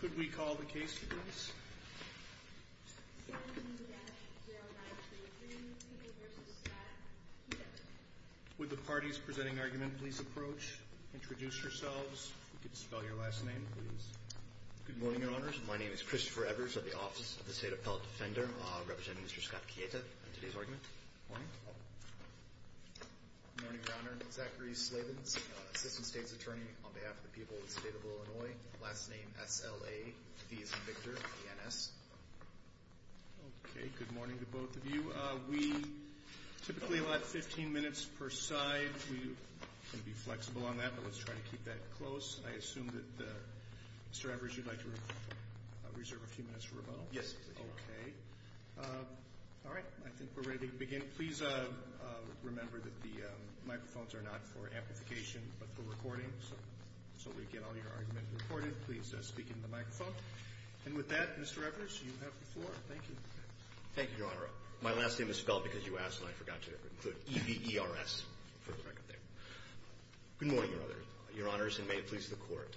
Could we call the case, please? Would the parties presenting argument please approach? Introduce yourselves. You can spell your last name, please. Good morning, Your Honors. My name is Christopher Evers of the Office of the State Appellate Defender, representing Mr. Scott Kieta in today's argument. Good morning. Good morning, Your Honor. Zachary Slavens, Assistant States Attorney on behalf of the people of the state of Illinois. Last name S-L-A. He is Victor, E-N-S. Okay, good morning to both of you. We typically allow 15 minutes per side. We're going to be flexible on that, but let's try to keep that close. I assume that Mr. Evers, you'd like to reserve a few minutes for rebuttal? Yes, please. Okay. All right, I think we're ready to begin. Please remember that the microphones are not for amplification, but for recording. So we get all your arguments recorded. Please speak into the microphone. And with that, Mr. Evers, you have the floor. Thank you. Thank you, Your Honor. My last name is spelled because you asked, and I forgot to include E-V-E-R-S for the record there. Good morning, Your Honors, and may it please the Court.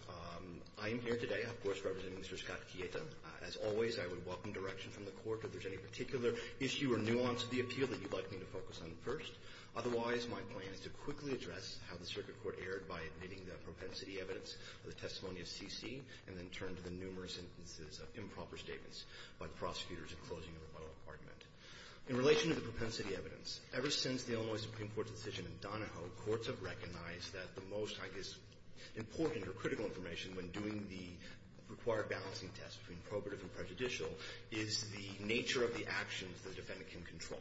I am here today, of course, representing Mr. Scott Kieta. As always, I would welcome direction from the Court if there's any particular issue or nuance of the appeal that you'd like me to focus on first. Otherwise, my plan is to quickly address how the Circuit Court erred by admitting the propensity evidence of the testimony of C.C. and then turn to the numerous instances of improper statements by the prosecutors in closing a rebuttal argument. In relation to the propensity evidence, ever since the Illinois Supreme Court's decision in Donahoe, courts have recognized that the most, I guess, important or critical information when doing the required balancing test between probative and prejudicial is the nature of the actions the defendant can control.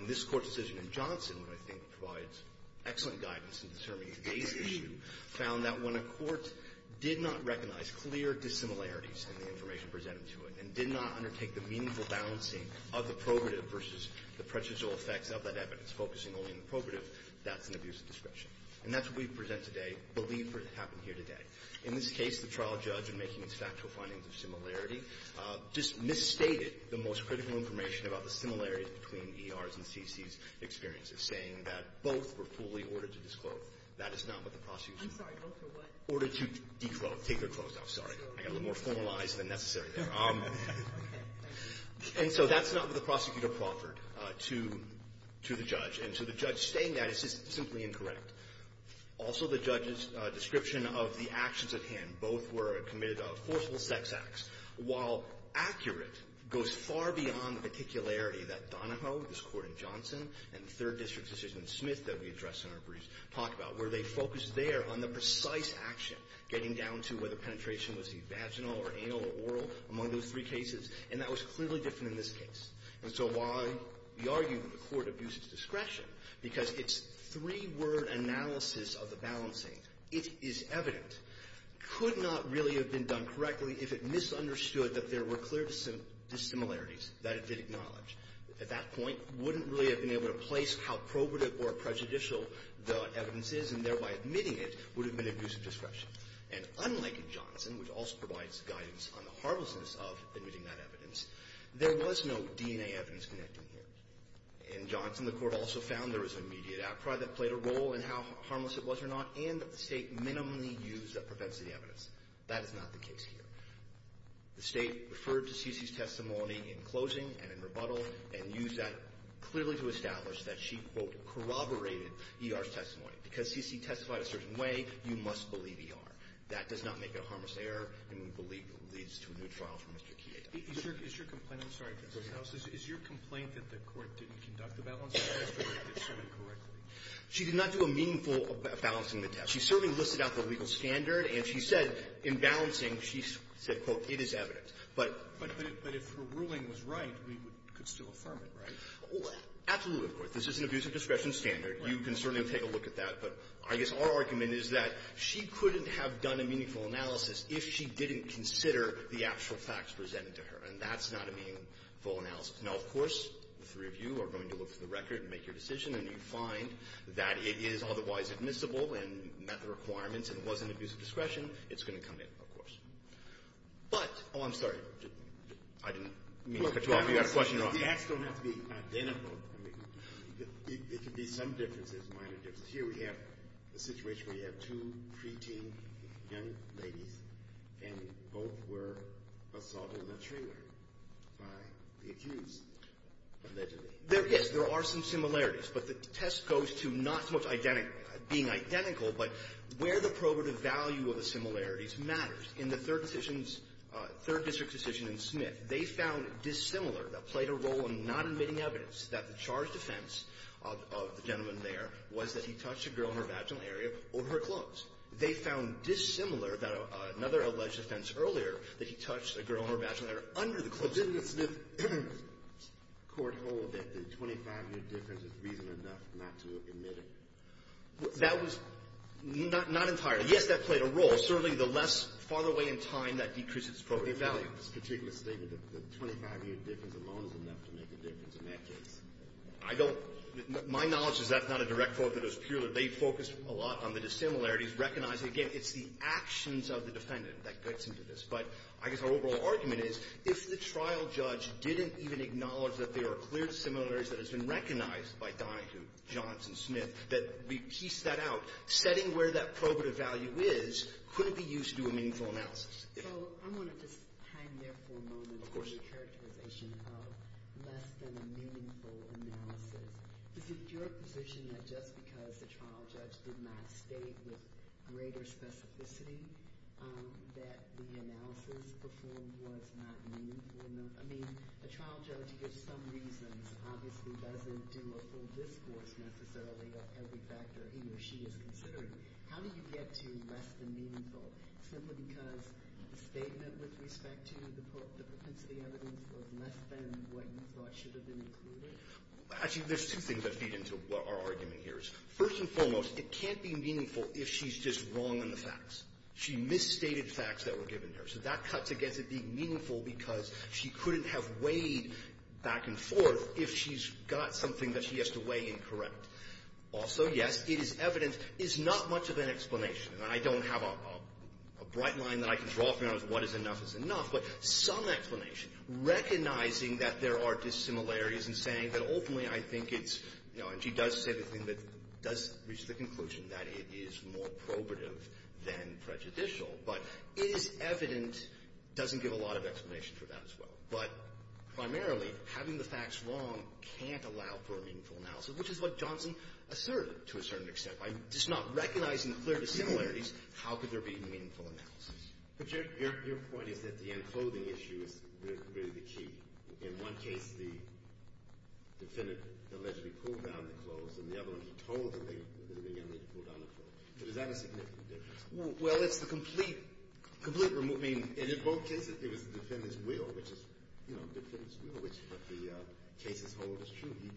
And this Court decision in Johnson, which I think provides excellent guidance in determining today's issue, found that when a court did not recognize clear dissimilarities in the information presented to it and did not undertake the meaningful balancing of the probative versus the prejudicial effects of that evidence, focusing only on the probative, that's an abuse of discretion. And that's what we present today, believe, for what happened here today. In this case, the trial judge, in making its factual findings of similarity, just misstated the most critical information about the similarities between E.R.'s and C.C.'s experiences, saying that both were fully ordered to disclose. That is not what the prosecution ordered. I'm sorry. Both are what? Ordered to declose. Take their clothes off. Sorry. I got a little more formalized than necessary there. And so that's not what the prosecutor proffered to the judge. And so the judge stating that is just simply incorrect. Also, the judge's description of the actions at hand, both were committed of forceful sex acts, while accurate, goes far beyond the particularity that Donahoe, this Court in Johnson, and the Third District Justice in Smith that we address in our briefs talk about, where they focus there on the precise action, getting down to whether penetration was evaginal or anal or oral among those three cases. And that was clearly different in this case. And so why we argue that the Court abused its discretion, because its three-word analysis of the balancing, it is evident, could not really have been done correctly if it misunderstood that there were clear dissimilarities that it did acknowledge. At that point, wouldn't really have been able to place how probative or prejudicial the evidence is, and thereby admitting it would have been an abuse of discretion. And unlike in Johnson, which also provides guidance on the harmlessness of admitting that evidence, there was no DNA evidence connecting here. In Johnson, the Court also found there was an immediate outcry that played a role in how harmless it was or not, and that the State minimally used a propensity evidence. That is not the case here. The State referred to Cici's testimony in closing and in rebuttal, and used that clearly to establish that she, quote, corroborated E.R.'s testimony. Because Cici testified a certain way, you must believe E.R. That does not make it a harmless error, and we believe it leads to a new trial for Mr. Chieda. Roberts. Is your complaint that the Court didn't conduct the balancing test or that it did do it correctly? She did not do a meaningful balancing test. She certainly listed out the legal standard, and she said in balancing, she said, quote, it is evidence. But… But if her ruling was right, we could still affirm it, right? Absolutely, of course. This is an abuse of discretion standard. You can certainly take a look at that. But I guess our argument is that she couldn't have done a meaningful analysis if she didn't consider the actual facts presented to her. And that's not a meaningful analysis. Now, of course, the three of you are going to look for the record and make your decision, and you find that it is otherwise admissible and met the requirements and was an abuse of discretion, it's going to come in, of course. But… Oh, I'm sorry. I didn't mean to put you off. You've got a question. The facts don't have to be identical. There could be some differences, minor differences. Here we have a situation where you have two preteen young ladies, and both were assaulted in a trailer by the accused, allegedly. There is. There are some similarities, but the test goes to not so much being identical, but where the probative value of the similarities matters. In the third decision's – third district's decision in Smith, they found dissimilar that played a role in not admitting evidence that the charged offense of the gentleman there was that he touched a girl in her vaginal area over her clothes. They found dissimilar that another alleged offense earlier that he touched a girl in her vaginal area under the clothes. Didn't the Smith court hold that the 25-year difference is reasonable enough not to admit it? That was not entirely. Yes, that played a role. Certainly, the less – farther away in time, that decreases probative value. But in this particular statement, the 25-year difference alone is enough to make a difference in that case. I don't – my knowledge is that's not a direct fault, that it was purely – they focused a lot on the dissimilarities, recognizing, again, it's the actions of the defendant that gets into this. But I guess our overall argument is if the trial judge didn't even acknowledge that there are clear dissimilarities that has been recognized by Donahue, Johns, and Smith, that we piece that out, setting where that probative value is couldn't be used to do a meaningful analysis. So I want to just hang there for a moment on the characterization of less than a meaningful analysis. Is it your position that just because the trial judge did not state with greater specificity that the analysis performed was not meaningful? I mean, a trial judge, for some reasons, obviously doesn't do a full discourse necessarily of every factor he or she is considering. How do you get to less than meaningful simply because the statement with respect to the propensity evidence was less than what you thought should have been included? Actually, there's two things that feed into what our argument here is. First and foremost, it can't be meaningful if she's just wrong on the facts. She misstated facts that were given to her. So that cuts against it being meaningful because she couldn't have weighed back and forth if she's got something that she has to weigh incorrect. Also, yes, it is evident it's not much of an explanation. And I don't have a bright line that I can draw from you on what is enough is enough, but some explanation, recognizing that there are dissimilarities and saying that, certainly I think it's, you know, and she does say the thing that does reach the conclusion that it is more probative than prejudicial, but is evident doesn't give a lot of explanation for that as well. But primarily, having the facts wrong can't allow for a meaningful analysis, which is what Johnson asserted to a certain extent. By just not recognizing the clear dissimilarities, how could there be meaningful analysis? But your point is that the unclothing issue is really the key. In one case, the defendant allegedly pulled down the clothes, and the other one, he told him that he was going to need to pull down the clothes. Is that a significant difference? Well, it's the complete removal. I mean, in both cases, it was the defendant's will, which is, you know, the defendant's will, which is what the cases hold is true. He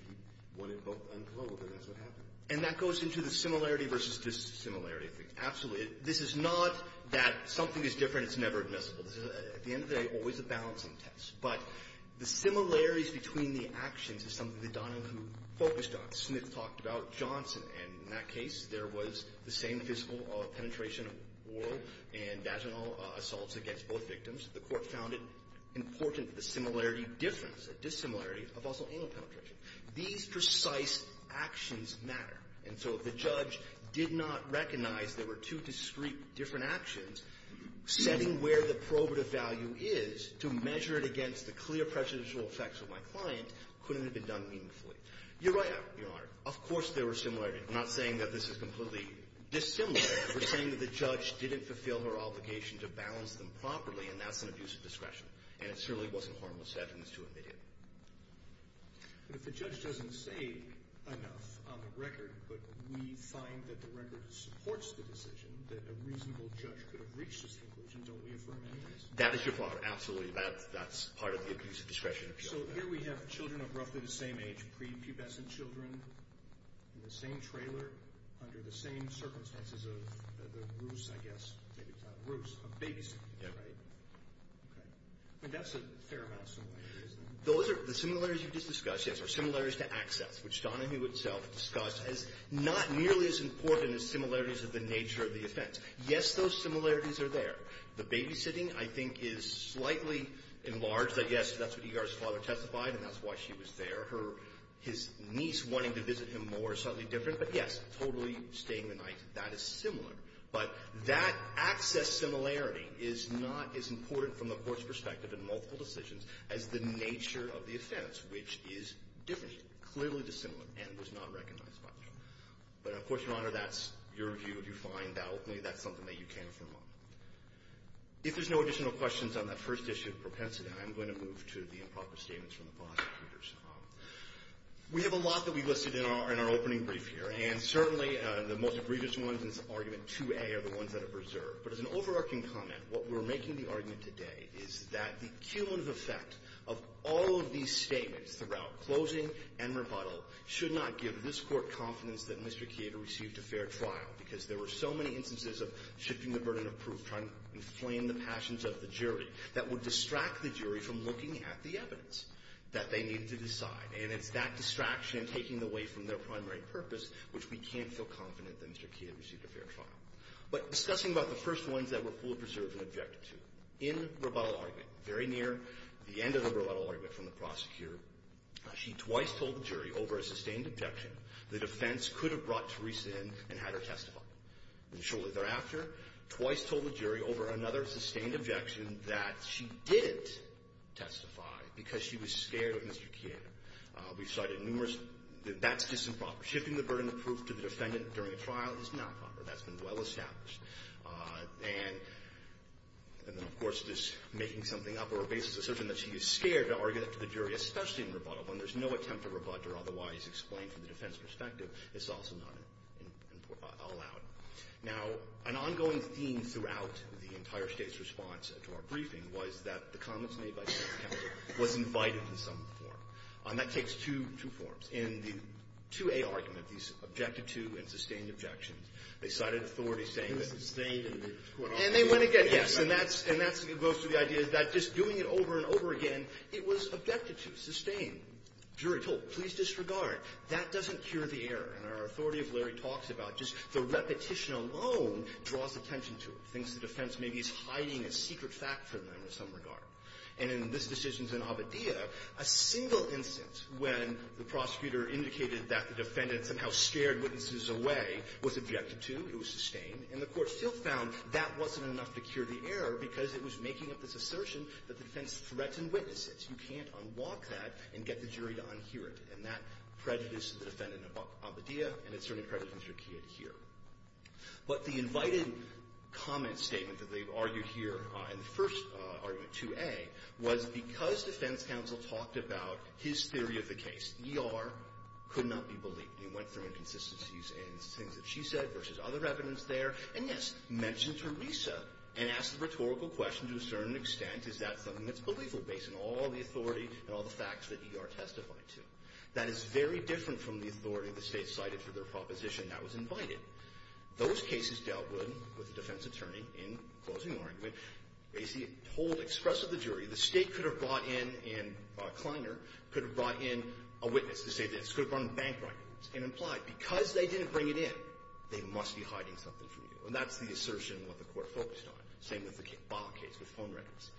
wanted both unclothed, and that's what happened. And that goes into the similarity versus dissimilarity thing. Absolutely. This is not that something is different, it's never admissible. This is, at the end of the day, always a balancing test. But the similarities between the actions is something that Donahue focused on. Smith talked about Johnson, and in that case, there was the same physical penetration of oral and vaginal assaults against both victims. The Court found it important that the similarity difference, the dissimilarity, of also anal penetration. These precise actions matter. And so if the judge did not recognize there were two discrete different actions, setting where the probative value is to measure it against the clear prejudicial effects of my client couldn't have been done meaningfully. You're right, Your Honor. Of course there were similarities. I'm not saying that this is completely dissimilar. We're saying that the judge didn't fulfill her obligation to balance them properly, and that's an abuse of discretion. And it certainly wasn't harmless evidence to admit it. But if the judge doesn't say enough on the record, but we find that the record supports the decision, that a reasonable judge could have reached this conclusion, don't we affirm any of this? That is your point, absolutely. That's part of the abuse of discretion. So here we have children of roughly the same age, prepubescent children, in the same trailer, under the same circumstances of the ruse, I guess, maybe it's not a ruse, of babysitting, right? Yeah. Okay. I mean, that's a fair amount of similarities, then. Those are the similarities you just discussed, yes, are similarities to access, which Donahue itself discussed as not nearly as important as similarities of the nature of the offense. Yes, those similarities are there. The babysitting, I think, is slightly enlarged. I guess that's what Egar's father testified, and that's why she was there. Her — his niece wanting to visit him more is slightly different. But, yes, totally staying the night, that is similar. But that access similarity is not as important from the Court's perspective in multiple decisions as the nature of the offense, which is different. It's clearly dissimilar and was not recognized by the Court. But, of course, Your Honor, that's your view. If you find that openly, that's something that you can affirm on. If there's no additional questions on that first issue of propensity, I'm going to move to the improper statements from the bondholders. We have a lot that we listed in our opening brief here, and certainly the most egregious ones in Argument 2A are the ones that are preserved. But as an overarching comment, what we're making the argument today is that the cumulative effect of all of these statements throughout closing and rebuttal should not give this Court confidence that Mr. Keita received a fair trial, because there were so many instances of shifting the burden of proof, trying to inflame the passions of the jury, that would distract the jury from looking at the evidence that they needed to decide. And it's that distraction taking away from their primary purpose which we can't feel confident that Mr. Keita received a fair trial. But discussing about the first ones that were fully preserved in Objection 2, in rebuttal argument, very near the end of the rebuttal argument from the prosecutor, she twice told the jury over a sustained objection the defense could have brought Theresa in and had her testify. And shortly thereafter, twice told the jury over another sustained objection that she didn't testify because she was scared of Mr. Keita. We've cited numerous — that's just improper. Shifting the burden of proof to the defendant during a trial is not proper. That's been well established. And then, of course, this making something up over a basis of assertion that she is scared to argue that to the jury, especially in rebuttal, when there's no attempt to rebut or otherwise explain from the defense perspective, it's also not allowed. Now, an ongoing theme throughout the entire State's response to our briefing was that the comments made by the defense counsel was invited in some form. And that takes two — two forms. In the 2A argument, these objected-to and sustained objections, they cited authorities saying that — And they went again. And they went again, yes. And that's — and that goes to the idea that just doing it over and over again, it was objected to, sustained. Jury told, please disregard. That doesn't cure the error. And our authority of Larry talks about just the repetition alone draws attention to it, thinks the defense maybe is hiding a secret fact from them in some regard. And in this decision in Abadieh, a single instance when the prosecutor indicated that the defendant somehow scared witnesses away was objected to, it was sustained, and the Court still found that wasn't enough to cure the error because it was making up this assertion that the defense threatened witnesses. You can't unlock that and get the jury to unhear it. And that prejudices the defendant in Abadieh, and it certainly prejudices her here. But the invited comment statement that they've argued here in the first argument, 2A, was because defense counsel talked about his theory of the case. E.R. could not be believed. He went through inconsistencies in things that she said versus other evidence there, and, yes, mentioned Teresa and asked the rhetorical question to a certain extent, is that something that's believable based on all the authority and all the facts that E.R. testified to? That is very different from the authority the State cited for their proposition that was invited. Those cases dealt with, with the defense attorney, in the closing argument, basically told, expressed to the jury, the State could have brought in, and Kleiner could have brought in a witness to say this, could have brought in bank records and implied, because they didn't bring it in, they must be hiding something from you. And that's the assertion what the Court focused on. Same with the Baugh case with phone records.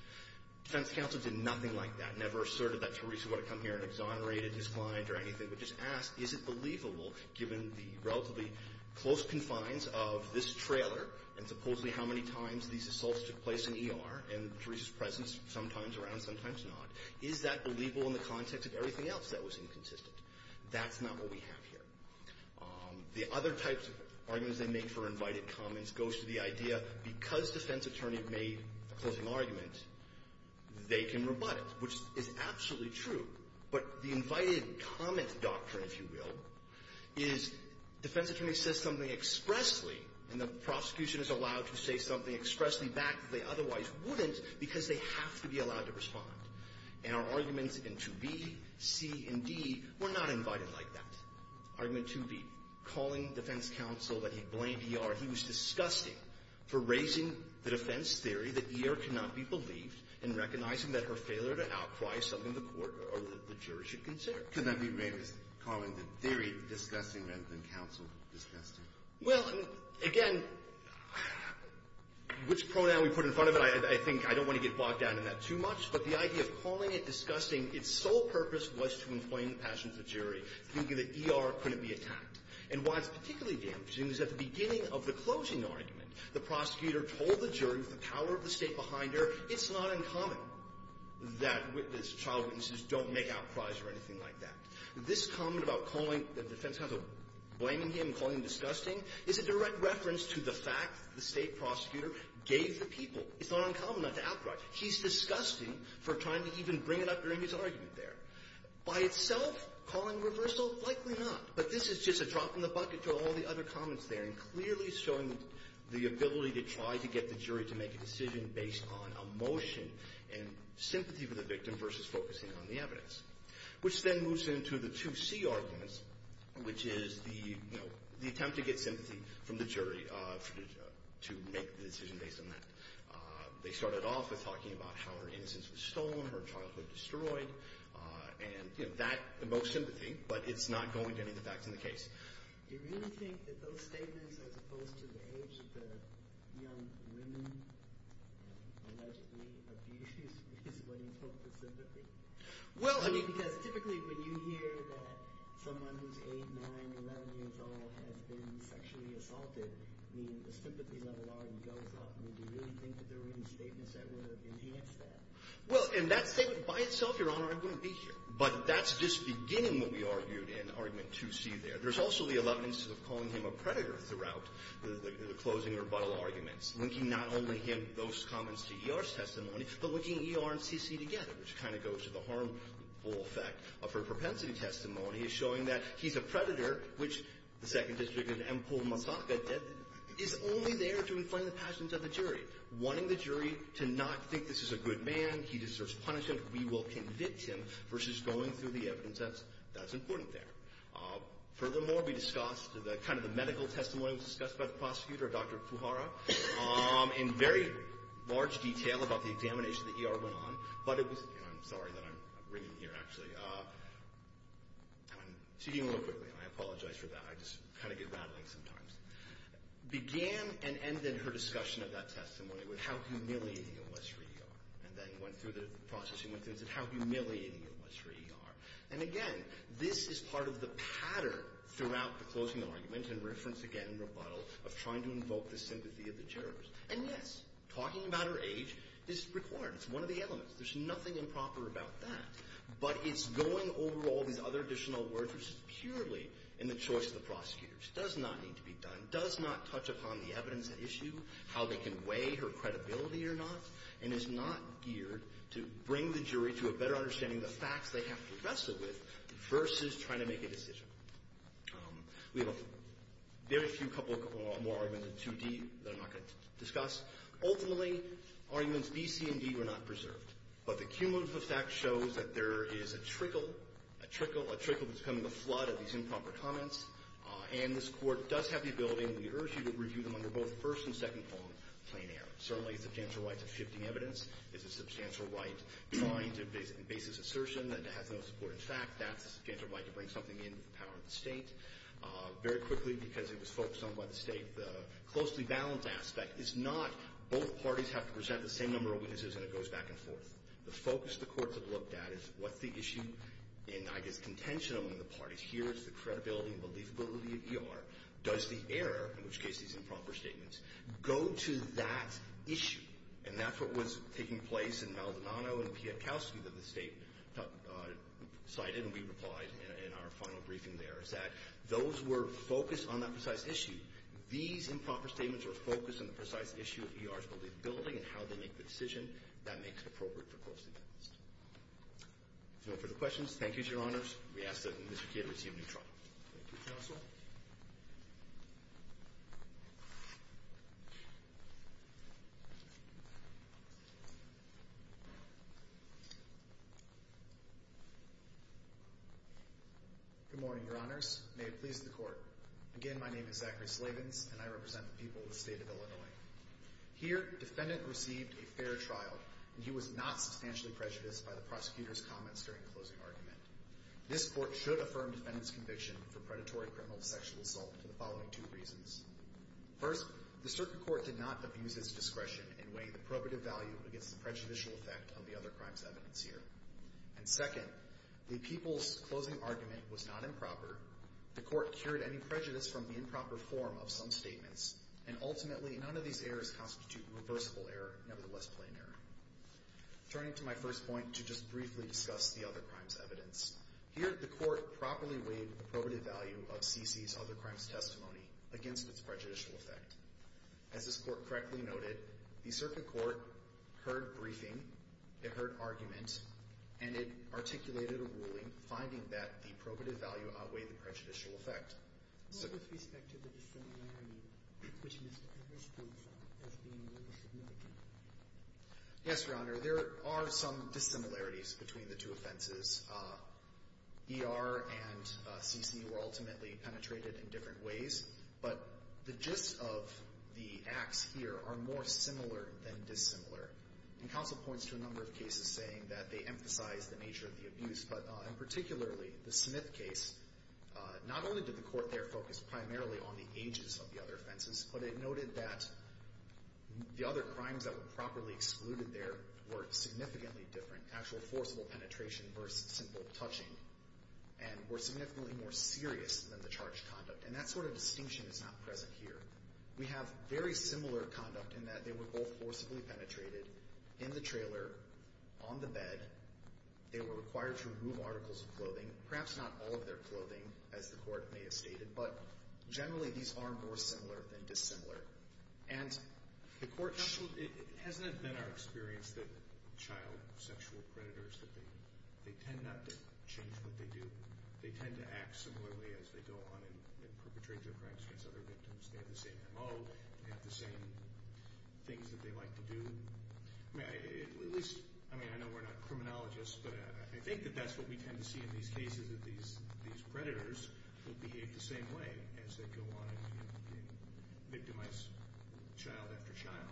Defense counsel did nothing like that, never asserted that Teresa would have come or anything, but just asked, is it believable, given the relatively close confines of this trailer and supposedly how many times these assaults took place in E.R. and Teresa's presence, sometimes around, sometimes not, is that believable in the context of everything else that was inconsistent? That's not what we have here. The other types of arguments they make for invited comments goes to the idea, because defense attorney made a closing argument, they can rebut it, which is absolutely true. But the invited comment doctrine, if you will, is defense attorney says something expressly, and the prosecution is allowed to say something expressly back that they otherwise wouldn't because they have to be allowed to respond. And our arguments in 2B, C, and D were not invited like that. Argument 2B, calling defense counsel that he blamed E.R. He was disgusting for raising the defense theory that E.R. cannot be believed, and recognizing that her failure to outcry is something the court or the jury should consider. Can that be made as calling the theory disgusting rather than counsel disgusting? Well, again, which pronoun we put in front of it, I think I don't want to get bogged down in that too much, but the idea of calling it disgusting, its sole purpose was to inflame the passions of the jury, thinking that E.R. couldn't be attacked. And why it's particularly damaging is at the beginning of the closing argument, the prosecutor told the jury with the power of the State behind her, it's not uncommon that child witnesses don't make outcries or anything like that. This comment about calling the defense counsel, blaming him, calling him disgusting, is a direct reference to the fact that the State prosecutor gave the people. It's not uncommon not to outcry. He's disgusting for trying to even bring it up during his argument there. By itself, calling reversal, likely not. But this is just a drop in the bucket to all the other comments there, and clearly showing the ability to try to get the jury to make a decision based on emotion and sympathy for the victim versus focusing on the evidence, which then moves into the 2C arguments, which is the, you know, the attempt to get sympathy from the jury to make the decision based on that. They started off with talking about how her innocence was stolen, her childhood destroyed, and, you know, that evokes sympathy, but it's not going to any of the facts in the case. Do you really think that those statements, as opposed to the age of the young women allegedly abused is what evokes the sympathy? Well, I mean, because typically when you hear that someone who's 8, 9, 11 years old has been sexually assaulted, I mean, the sympathy level already goes up. Do you really think that there were any statements that would have enhanced that? Well, in that statement, by itself, Your Honor, I wouldn't be here. But that's just beginning what we argued in Argument 2C there. There's also the 11 instances of calling him a predator throughout the closing rebuttal arguments, linking not only him, those comments to E.R.'s testimony, but linking E.R. and C.C. together, which kind of goes to the harmful effect of her propensity testimony as showing that he's a predator, which the Second District and Empole Mazzotta is only there to inflame the passions of the jury, wanting the jury to not think this is a good man, he deserves punishment, we will convict him, versus going through the evidence that's important there. Furthermore, we discussed kind of the medical testimony that was discussed by the prosecutor, Dr. Fuhara, in very large detail about the examination that E.R. went on, but it was, and I'm sorry that I'm ringing the ear, actually. I'm speaking a little quickly, and I apologize for that. I just kind of get rattling sometimes. Began and ended her discussion of that testimony with how humiliating it was for E.R. And, again, this is part of the pattern throughout the closing argument and reference again, rebuttal, of trying to invoke the sympathy of the jurors. And, yes, talking about her age is required. It's one of the elements. There's nothing improper about that. But it's going over all these other additional words, which is purely in the choice of the prosecutors. It does not need to be done. It does not touch upon the evidence at issue, how they can weigh her credibility or not, and is not geared to bring the jury to a better understanding of the facts they have to wrestle with versus trying to make a decision. We have a very few couple more arguments in 2D that I'm not going to discuss. Ultimately, arguments B, C, and D were not preserved. But the cumulative effect shows that there is a trickle, a trickle, a trickle that's becoming a flood of these improper comments. And this Court does have the ability, and we urge you, to review them under both first and second form, plain error. Certainly, it's a substantial right to shifting evidence. It's a substantial right trying to base an assertion that has no support in fact. That's a substantial right to bring something in with the power of the State. Very quickly, because it was focused on by the State, the closely balanced aspect is not both parties have to present the same number of witnesses and it goes back and forth. The focus of the Court that looked at is what's the issue, and I guess contention among the parties here is the credibility and believability of ER. Does the error, in which case these improper statements, go to that issue? And that's what was taking place in Maldonado and Pietkowski that the State cited and we replied in our final briefing there, is that those were focused on that precise issue. These improper statements were focused on the precise issue of ER's credibility and how they make the decision that makes it appropriate for closely balanced. If there are no further questions, thank you, Your Honors. We ask that Mr. Kea to receive a new trial. Thank you, Counsel. Good morning, Your Honors. May it please the Court. Again, my name is Zachary Slavins and I represent the people of the State of Illinois. Here, defendant received a fair trial and he was not substantially prejudiced by the prosecutor's comments during closing argument. This Court should affirm defendant's conviction for predatory criminal sexual assault for the following two reasons. First, the circuit court did not abuse its discretion in weighing the probative value against the prejudicial effect of the other crime's evidence here. And second, the people's closing argument was not improper. The Court cured any prejudice from the improper form of some statements. And ultimately, none of these errors constitute reversible error, nevertheless plain error. Turning to my first point to just briefly discuss the other crime's evidence, here the Court properly weighed the probative value of C.C.'s other crime's testimony against its prejudicial effect. As this Court correctly noted, the circuit court heard briefing, it heard argument, and it articulated a ruling finding that the probative value outweighed the prejudicial effect. Yes, Your Honor. There are some dissimilarities between the two offenses. E.R. and C.C. were ultimately penetrated in different ways. But the gist of the acts here are more similar than dissimilar. And counsel points to a number of cases saying that they emphasize the nature of the abuse. But in particularly, the Smith case, not only did the Court there focus primarily on the ages of the other offenses, but it noted that the other crimes that were properly excluded there were significantly different, actual forcible penetration versus simple touching, and were significantly more serious than the charged conduct. And that sort of distinction is not present here. We have very similar conduct in that they were both forcibly penetrated in the trailer, on the bed. They were required to remove articles of clothing, perhaps not all of their clothing, as the Court may have stated. But generally, these are more similar than dissimilar. And the Court – Counsel, it hasn't been our experience that child sexual predators, that they tend not to change what they do. They tend to act similarly as they go on and perpetrate their crimes against other victims. They have the same MO. They have the same things that they like to do. At least – I mean, I know we're not criminologists, but I think that that's what we tend to see in these cases, that these predators will behave the same way as they go on and victimize child after child.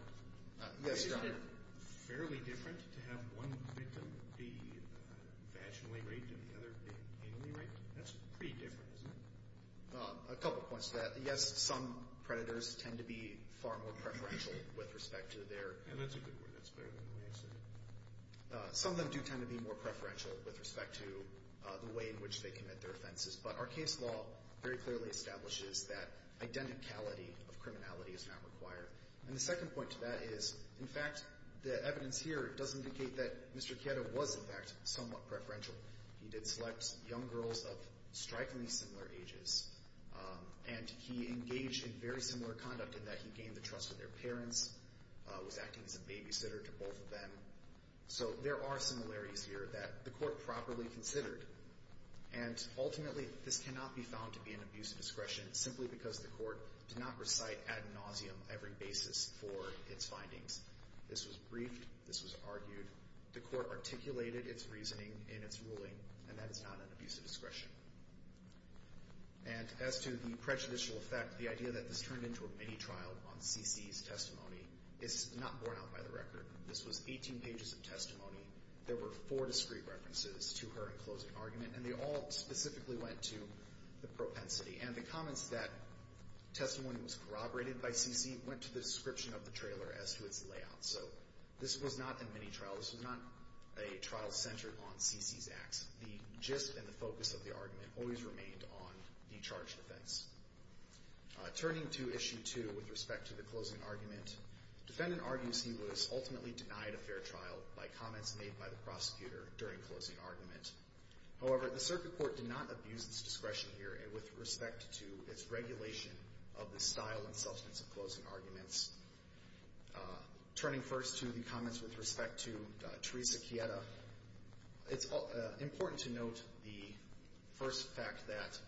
Yes, Your Honor. Isn't it fairly different to have one victim be vaginally raped and the other be anally raped? That's pretty different, isn't it? A couple points to that. Yes, some predators tend to be far more preferential with respect to their behavior. And that's a good word. That's better than the way I said it. Some of them do tend to be more preferential with respect to the way in which they commit their offenses. But our case law very clearly establishes that identicality of criminality is not required. And the second point to that is, in fact, the evidence here does indicate that Mr. Chieto was, in fact, somewhat preferential. He did select young girls of strikingly similar ages. And he engaged in very similar conduct in that he gained the trust of their parents, was acting as a babysitter to both of them. So there are similarities here that the court properly considered. And ultimately, this cannot be found to be an abuse of discretion simply because the court did not recite ad nauseum every basis for its findings. This was briefed. This was argued. The court articulated its reasoning in its ruling. And that is not an abuse of discretion. And as to the prejudicial effect, the idea that this turned into a mini trial on C.C.'s testimony is not borne out by the record. This was 18 pages of testimony. There were four discreet references to her in closing argument. And they all specifically went to the propensity. And the comments that testimony was corroborated by C.C. went to the description of the trailer as to its layout. So this was not a mini trial. This was not a trial centered on C.C.'s acts. The gist and the focus of the argument always remained on the charge defense. Turning to Issue 2 with respect to the closing argument, defendant argues he was ultimately denied a fair trial by comments made by the prosecutor during closing argument. However, the circuit court did not abuse its discretion here with respect to its regulation of the style and substance of closing arguments. Turning first to the comments with respect to Teresa Quieta, it's important to note the first fact that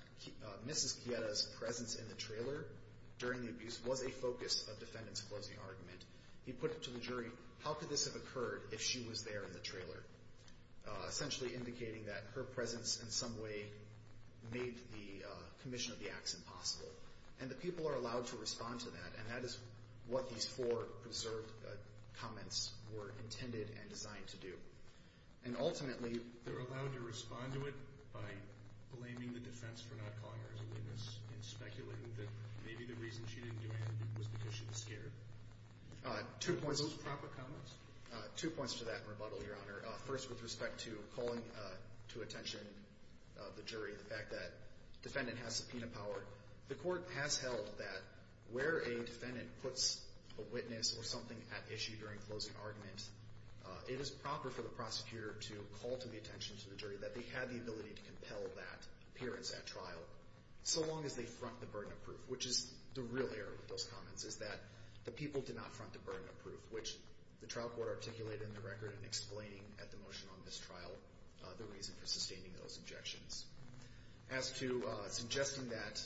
Mrs. Quieta's presence in the trailer during the abuse was a focus of defendant's closing argument. He put it to the jury, how could this have occurred if she was there in the trailer, essentially indicating that her presence in some way made the commission of the acts impossible. And the people are allowed to respond to that, and that is what these four preserved comments were intended and designed to do. And ultimately, they're allowed to respond to it by blaming the defense for not calling her as a witness and speculating that maybe the reason she didn't do anything was because she was scared. Two points. Are those proper comments? Two points to that rebuttal, Your Honor. First, with respect to calling to attention the jury the fact that defendant has subpoena power. The court has held that where a defendant puts a witness or something at issue during closing argument, it is proper for the prosecutor to call to the attention to the jury that they had the ability to compel that appearance at trial so long as they front the burden of proof, which is the real error with those comments is that the people did not front the burden of proof, which the trial court articulated in the record in explaining at the motion on this trial the reason for sustaining those objections. As to suggesting that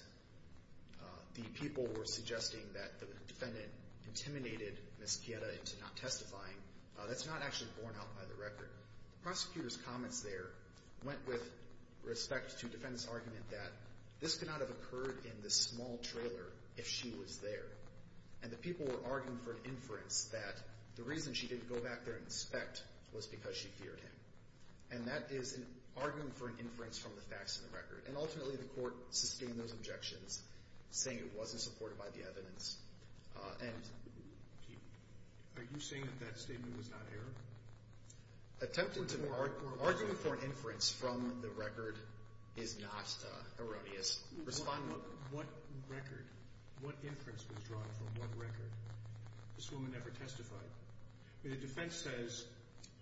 the people were suggesting that the defendant intimidated Ms. Chieta into not testifying, that's not actually borne out by the record. The prosecutor's comments there went with respect to defendant's argument that this could not have occurred in this small trailer if she was there. And the people were arguing for an inference that the reason she didn't go back there and inspect was because she feared him. And that is an argument for an inference from the facts in the record. And ultimately, the court sustained those objections, saying it wasn't supported by the evidence. And... Are you saying that that statement was not error? Attempting to argue for an inference from the record is not erroneous. Respond, Your Honor. What record? What inference was drawn from what record? This woman never testified. The defense says,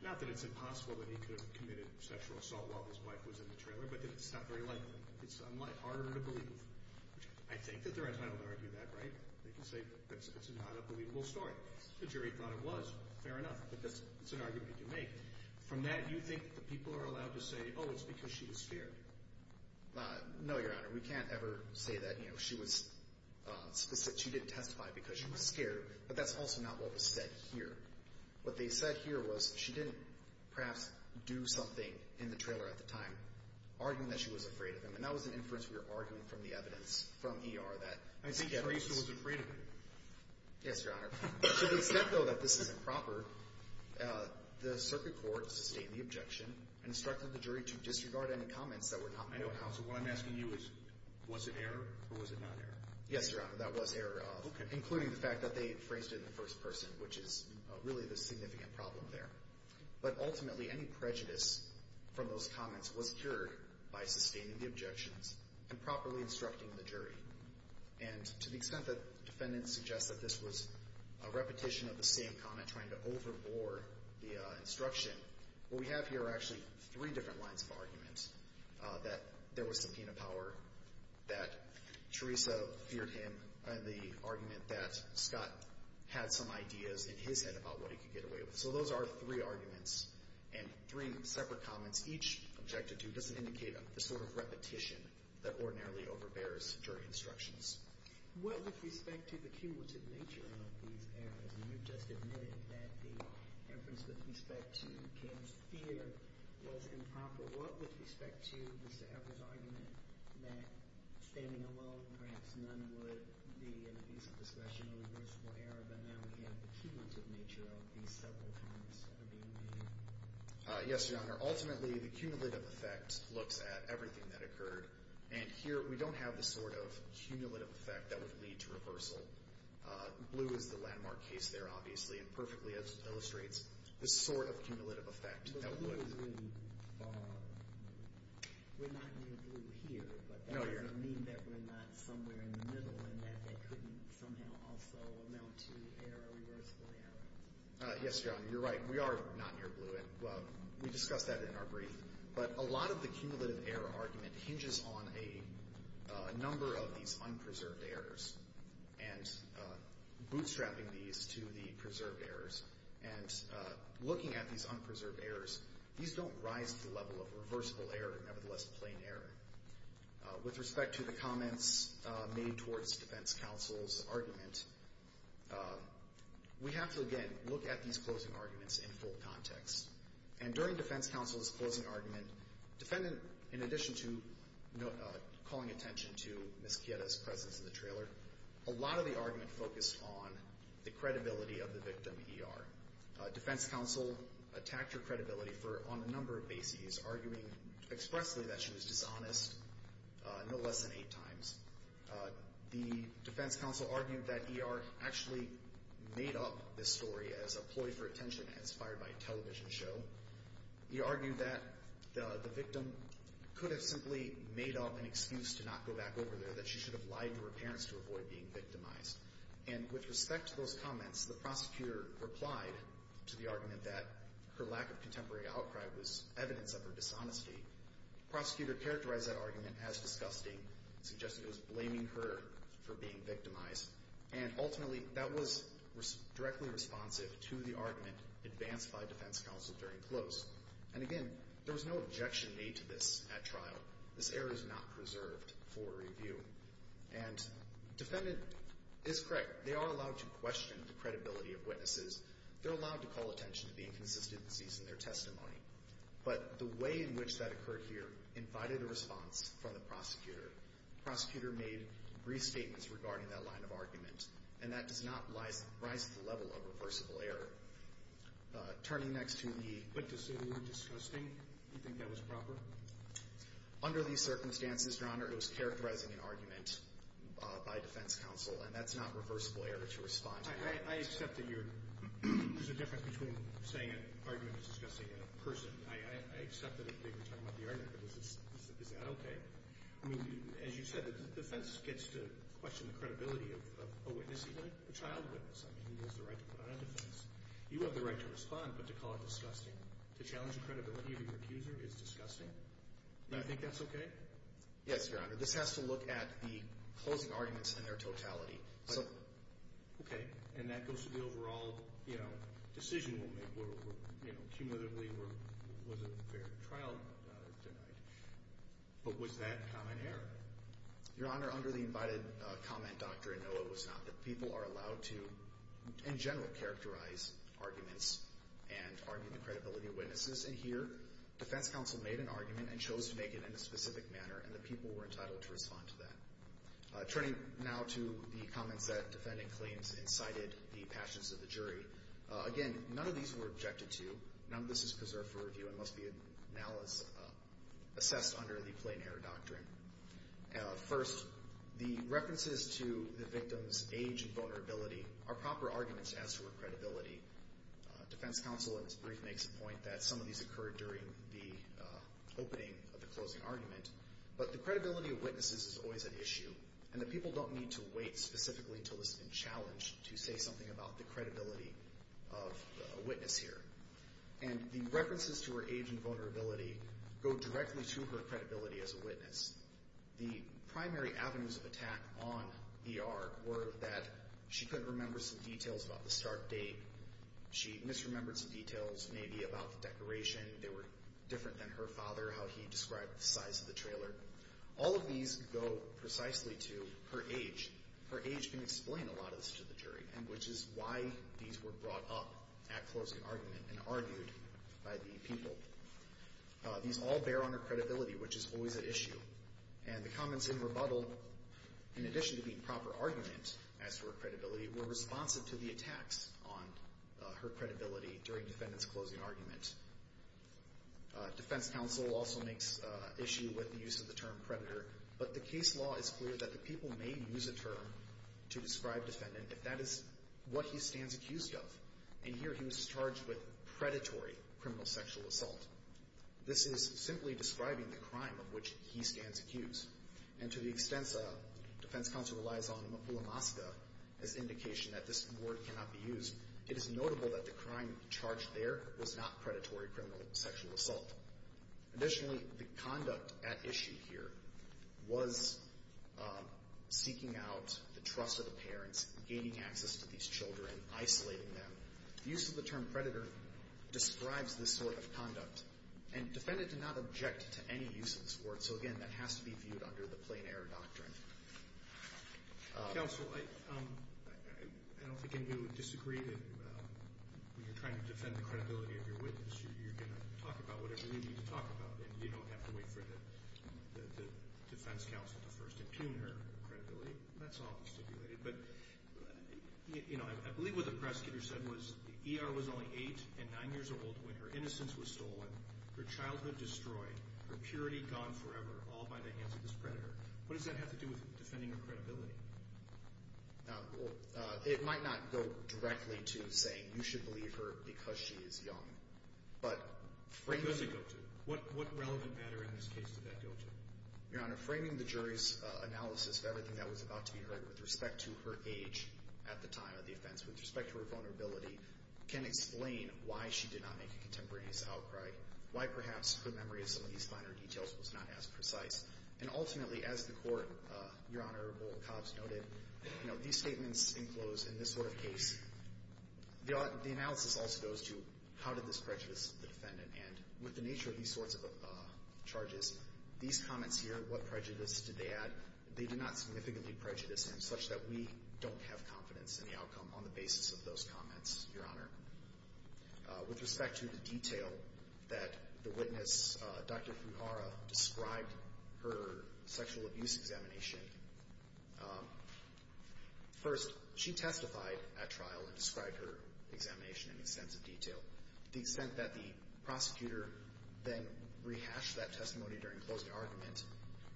not that it's impossible that he could have committed sexual assault while his wife was in the trailer, but that it's not very likely. It's harder to believe. I think that they're entitled to argue that, right? They can say that it's not a believable story. The jury thought it was. Fair enough. But that's an argument to make. From that, you think the people are allowed to say, oh, it's because she was scared? No, Your Honor. We can't ever say that, you know, she was specific. She didn't testify because she was scared. But that's also not what was said here. What they said here was she didn't perhaps do something in the trailer at the time, arguing that she was afraid of him. And that was an inference we were arguing from the evidence from E.R. that... I think Theresa was afraid of him. Yes, Your Honor. To the extent, though, that this is improper, the circuit court sustained the objection and instructed the jury to disregard any comments that were not made. I know. So what I'm asking you is, was it error or was it not error? Yes, Your Honor, that was error. Okay. Including the fact that they phrased it in the first person, which is really the significant problem there. But ultimately, any prejudice from those comments was cured by sustaining the objections and properly instructing the jury. And to the extent that defendants suggest that this was a repetition of the same comment, trying to overbore the instruction, what we have here are actually three different lines of argument, that there was subpoena power, that Theresa feared him, and the argument that Scott had some ideas in his head about what he could get away with. So those are three arguments and three separate comments. Each objected to doesn't indicate a sort of repetition that ordinarily overbears jury instructions. What with respect to the cumulative nature of these errors, and you've just admitted that the inference with respect to Kim's fear was improper, what with respect to Mr. Heffer's argument that standing alone, perhaps none would be an offensive discussion or reversible error, but now we have the cumulative nature of these several comments that are being made? Yes, Your Honor. Ultimately, the cumulative effect looks at everything that occurred. And here we don't have the sort of cumulative effect that would lead to reversal. Blue is the landmark case there, obviously, and perfectly illustrates the sort of cumulative effect that would. That was really far off. We're not near blue here, but that doesn't mean that we're not somewhere in the middle and that that couldn't somehow also amount to error, reversible error. Yes, Your Honor, you're right. We are not near blue, and we discussed that in our brief. But a lot of the cumulative error argument hinges on a number of these unpreserved errors and bootstrapping these to the preserved errors. And looking at these unpreserved errors, these don't rise to the level of reversible error, nevertheless plain error. With respect to the comments made towards defense counsel's argument, we have to, again, look at these closing arguments in full context. And during defense counsel's closing argument, defendant, in addition to calling attention to Ms. Chieta's presence in the trailer, a lot of the argument focused on the credibility of the victim, E.R. Defense counsel attacked her credibility on a number of bases, arguing expressly that she was dishonest no less than eight times. The defense counsel argued that E.R. actually made up this story as a ploy for attention, inspired by a television show. He argued that the victim could have simply made up an excuse to not go back over there, that she should have lied to her parents to avoid being victimized. And with respect to those comments, the prosecutor replied to the argument that her lack of contemporary outcry was evidence of her dishonesty. The prosecutor characterized that argument as disgusting and suggested it was blaming her for being victimized. And ultimately, that was directly responsive to the argument advanced by defense counsel during close. And again, there was no objection made to this at trial. This error is not preserved for review. And defendant is correct. They are allowed to question the credibility of witnesses. They're allowed to call attention to the inconsistencies in their testimony. But the way in which that occurred here invited a response from the prosecutor. The prosecutor made brief statements regarding that line of argument, and that does not rise to the level of reversible error. Turning next to the. But to say that it was disgusting, you think that was proper? Under these circumstances, Your Honor, it was characterizing an argument by defense counsel, and that's not reversible error to respond to. I accept that there's a difference between saying an argument is disgusting and a person. I accept that they were talking about the argument, but is that okay? I mean, as you said, the defense gets to question the credibility of a witness, even a child witness. I mean, who has the right to put on a defense? You have the right to respond, but to call it disgusting, to challenge the credibility of your accuser is disgusting? Do you think that's okay? Yes, Your Honor. This has to look at the closing arguments in their totality. Okay. And that goes to the overall, you know, decision we'll make. You know, cumulatively, was it a fair trial denied? But was that common error? Your Honor, under the invited comment doctrine, no, it was not. The people are allowed to, in general, characterize arguments and argue the credibility of witnesses. And here, defense counsel made an argument and chose to make it in a specific manner, and the people were entitled to respond to that. Turning now to the comments that defendant claims incited the passions of the jury, again, none of these were objected to. None of this is preserved for review and must be now assessed under the plain error doctrine. First, the references to the victim's age and vulnerability are proper arguments as to her credibility. Defense counsel, in his brief, makes a point that some of these occurred during the opening of the closing argument. But the credibility of witnesses is always an issue, and the people don't need to wait specifically until this has been challenged to say something about the credibility of a witness here. And the references to her age and vulnerability go directly to her credibility as a witness. The primary avenues of attack on VR were that she couldn't remember some details about the start date. She misremembered some details, maybe about the decoration. They were different than her father, how he described the size of the trailer. All of these go precisely to her age. Her age can explain a lot of this to the jury, and which is why these were brought up at closing argument and argued by the people. These all bear on her credibility, which is always an issue. And the comments in rebuttal, in addition to being proper arguments as to her credibility, were responsive to the attacks on her credibility during defendant's closing argument. Defense counsel also makes issue with the use of the term predator, but the case law is clear that the people may use a term to describe defendant if that is what he stands accused of. And here he was charged with predatory criminal sexual assault. This is simply describing the crime of which he stands accused. And to the extent defense counsel relies on Mapula Masga as indication that this word cannot be used, it is notable that the crime charged there was not predatory criminal sexual assault. Additionally, the conduct at issue here was seeking out the trust of the parents, gaining access to these children, isolating them. The use of the term predator describes this sort of conduct. And defendant did not object to any use of this word. So, again, that has to be viewed under the plain error doctrine. Counsel, I don't think any of you would disagree that when you're trying to defend the credibility of your witness, you're going to talk about whatever you need to talk about, and you don't have to wait for the defense counsel to first impugn her credibility. That's all stipulated. But, you know, I believe what the prosecutor said was the ER was only eight and nine years old when her innocence was stolen, her childhood destroyed, her purity gone forever, all by the hands of this predator. What does that have to do with defending her credibility? It might not go directly to saying you should believe her because she is young. What does it go to? What relevant matter in this case did that go to? Your Honor, framing the jury's analysis of everything that was about to be heard with respect to her age at the time of the offense, with respect to her vulnerability, can explain why she did not make a contemporaneous outcry, why perhaps her memory of some of these finer details was not as precise. And ultimately, as the Court, Your Honor, Boal-Cobbs noted, you know, these statements enclose in this sort of case, the analysis also goes to how did this prejudice the defendant. And with the nature of these sorts of charges, these comments here, what prejudice did they add, they did not significantly prejudice him such that we don't have confidence in the outcome on the basis of those comments, Your Honor. With respect to the detail that the witness, Dr. Fuhara, described her sexual abuse examination, first, she testified at trial and described her examination in extensive detail. The extent that the prosecutor then rehashed that testimony during closing argument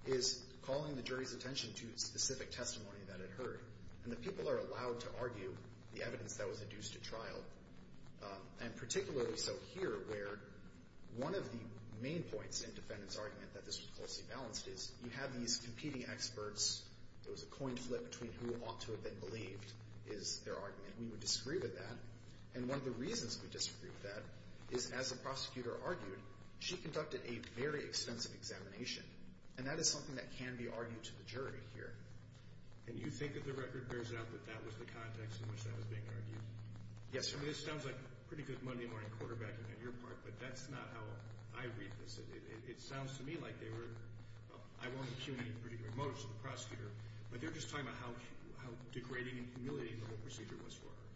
is calling the jury's attention to specific testimony that it heard. And the people are allowed to argue the evidence that was induced at trial. And particularly so here where one of the main points in defendant's argument that this was closely balanced is you have these competing experts. There was a coin flip between who ought to have been believed is their argument. We would disagree with that. And one of the reasons we disagree with that is as the prosecutor argued, she conducted a very extensive examination. And that is something that can be argued to the jury here. And you think that the record bears out that that was the context in which that was being argued? Yes, sir. I mean, this sounds like pretty good Monday morning quarterbacking on your part, but that's not how I read this. It sounds to me like they were, well, I won't impugn any particular motives to the prosecutor, but they're just talking about how degrading and humiliating the whole procedure was for her.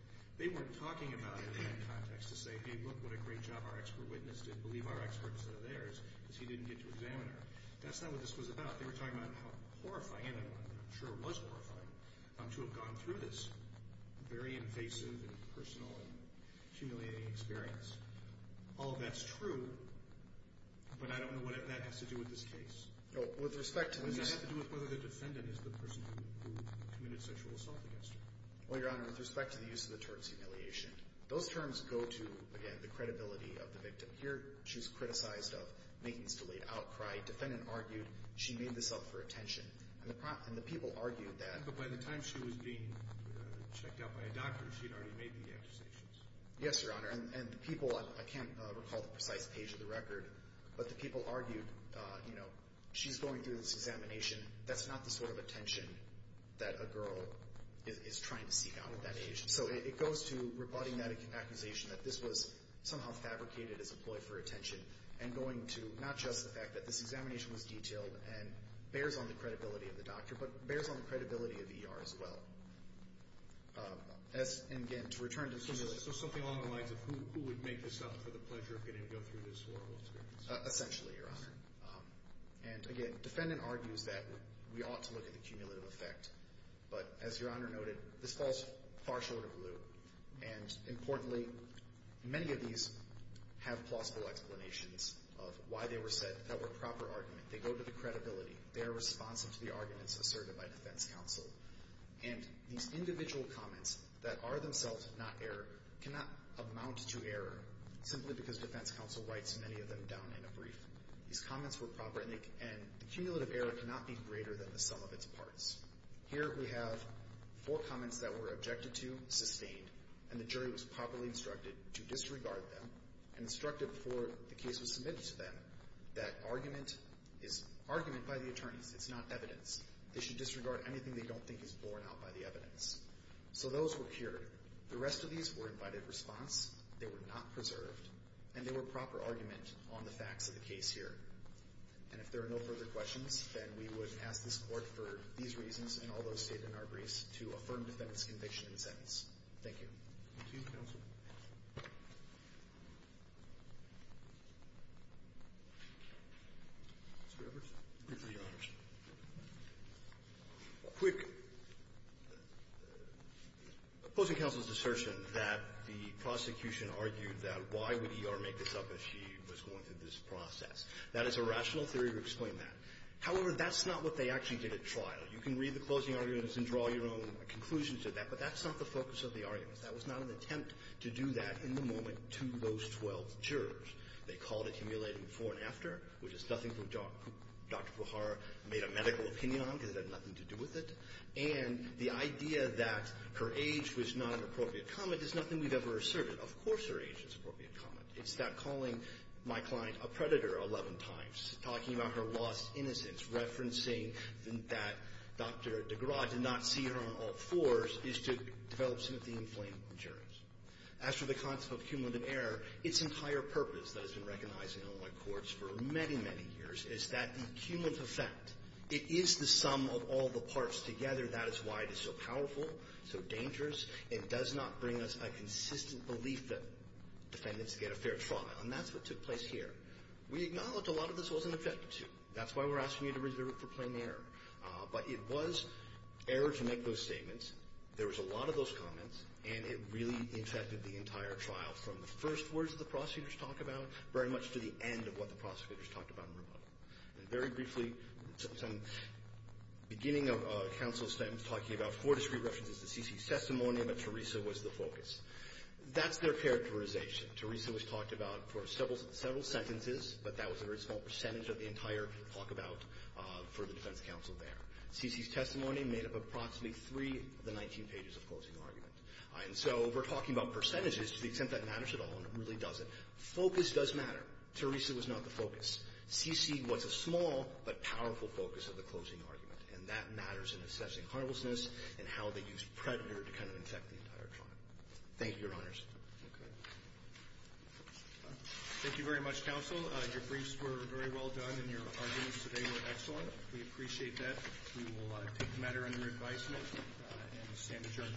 They weren't talking about it in that context to say, hey, look what a great job our expert witness did, believe our expert instead of theirs, because he didn't get to examine her. That's not what this was about. They were talking about how horrifying, and I'm sure it was horrifying, to have gone through this very invasive and personal and humiliating experience. All of that's true, but I don't know what that has to do with this case. No, with respect to this — It doesn't have to do with whether the defendant is the person who committed sexual assault against her. Well, Your Honor, with respect to the use of the terms humiliation, those terms go to, again, the credibility of the victim. Here, she was criticized of making this delayed outcry. Defendant argued she made this up for attention, and the people argued that — But by the time she was being checked out by a doctor, she had already made the accusations. Yes, Your Honor, and the people — I can't recall the precise page of the record, but the people argued, you know, she's going through this examination. That's not the sort of attention that a girl is trying to seek out at that age. So it goes to rebutting that accusation that this was somehow fabricated as a ploy for attention and going to not just the fact that this examination was detailed and bears on the credibility of the doctor, but bears on the credibility of E.R. as well. And, again, to return to the — So something along the lines of who would make this up for the pleasure of getting to go through this horrible experience? Essentially, Your Honor. And, again, the defendant argues that we ought to look at the cumulative effect, but as Your Honor noted, this falls far short of lieu, And, importantly, many of these have plausible explanations of why they were said that were proper argument. They go to the credibility. They are responsive to the arguments asserted by defense counsel. And these individual comments that are themselves not error cannot amount to error simply because defense counsel writes many of them down in a brief. These comments were proper, and the cumulative error cannot be greater than the sum of its parts. Here we have four comments that were objected to, sustained, and the jury was properly instructed to disregard them and instructed before the case was submitted to them that argument is argument by the attorneys. It's not evidence. They should disregard anything they don't think is borne out by the evidence. So those were cured. The rest of these were invited response. They were not preserved. And they were proper argument on the facts of the case here. And if there are no further questions, then we would ask this Court for these reasons and all those stated in our briefs to affirm defendant's conviction and sentence. Thank you. Roberts. Quick. Opposing counsel's assertion that the prosecution argued that why would E.R. make this up if she was going through this process. That is a rational theory to explain that. However, that's not what they actually did at trial. You can read the closing arguments and draw your own conclusions of that, but that's not the focus of the arguments. That was not an attempt to do that in the moment to those 12 jurors. They called it cumulative before and after, which is nothing for Dr. Puhar to make a medical opinion on because it had nothing to do with it. And the idea that her age was not an appropriate comment is nothing we've ever asserted. Of course her age is an appropriate comment. It's that calling my client a predator 11 times, talking about her lost innocence, referencing that Dr. DeGraw did not see her on all fours is to develop some of the inflamed jurors. As for the concept of cumulative error, its entire purpose that has been recognized in Illinois courts for many, many years is that the cumulative effect, it is the sum of all the parts together. That is why it is so powerful, so dangerous, and does not bring us a consistent belief that defendants get a fair trial. And that's what took place here. We acknowledge a lot of this wasn't objected to. That's why we're asking you to reserve it for plain error. But it was error to make those statements. There was a lot of those comments, and it really infected the entire trial from the first words the prosecutors talk about very much to the end of what the prosecutors talked about in rebuttal. And very briefly, some beginning of counsel's statement talking about four discreet objections to C.C.'s testimony about Teresa was the focus. That's their characterization. Teresa was talked about for several sentences, but that was a very small percentage of the entire talk about for the defense counsel there. C.C.'s testimony made up approximately three of the 19 pages of closing argument. And so we're talking about percentages to the extent that matters at all, and it really doesn't. Focus does matter. Teresa was not the focus. C.C. was a small but powerful focus of the closing argument. And that matters in assessing harmlessness and how they used predator to kind of infect the entire trial. Thank you, Your Honors. Okay. Thank you very much, counsel. Your briefs were very well done, and your arguments today were excellent. We appreciate that. We will take the matter under advisement and stand adjourned.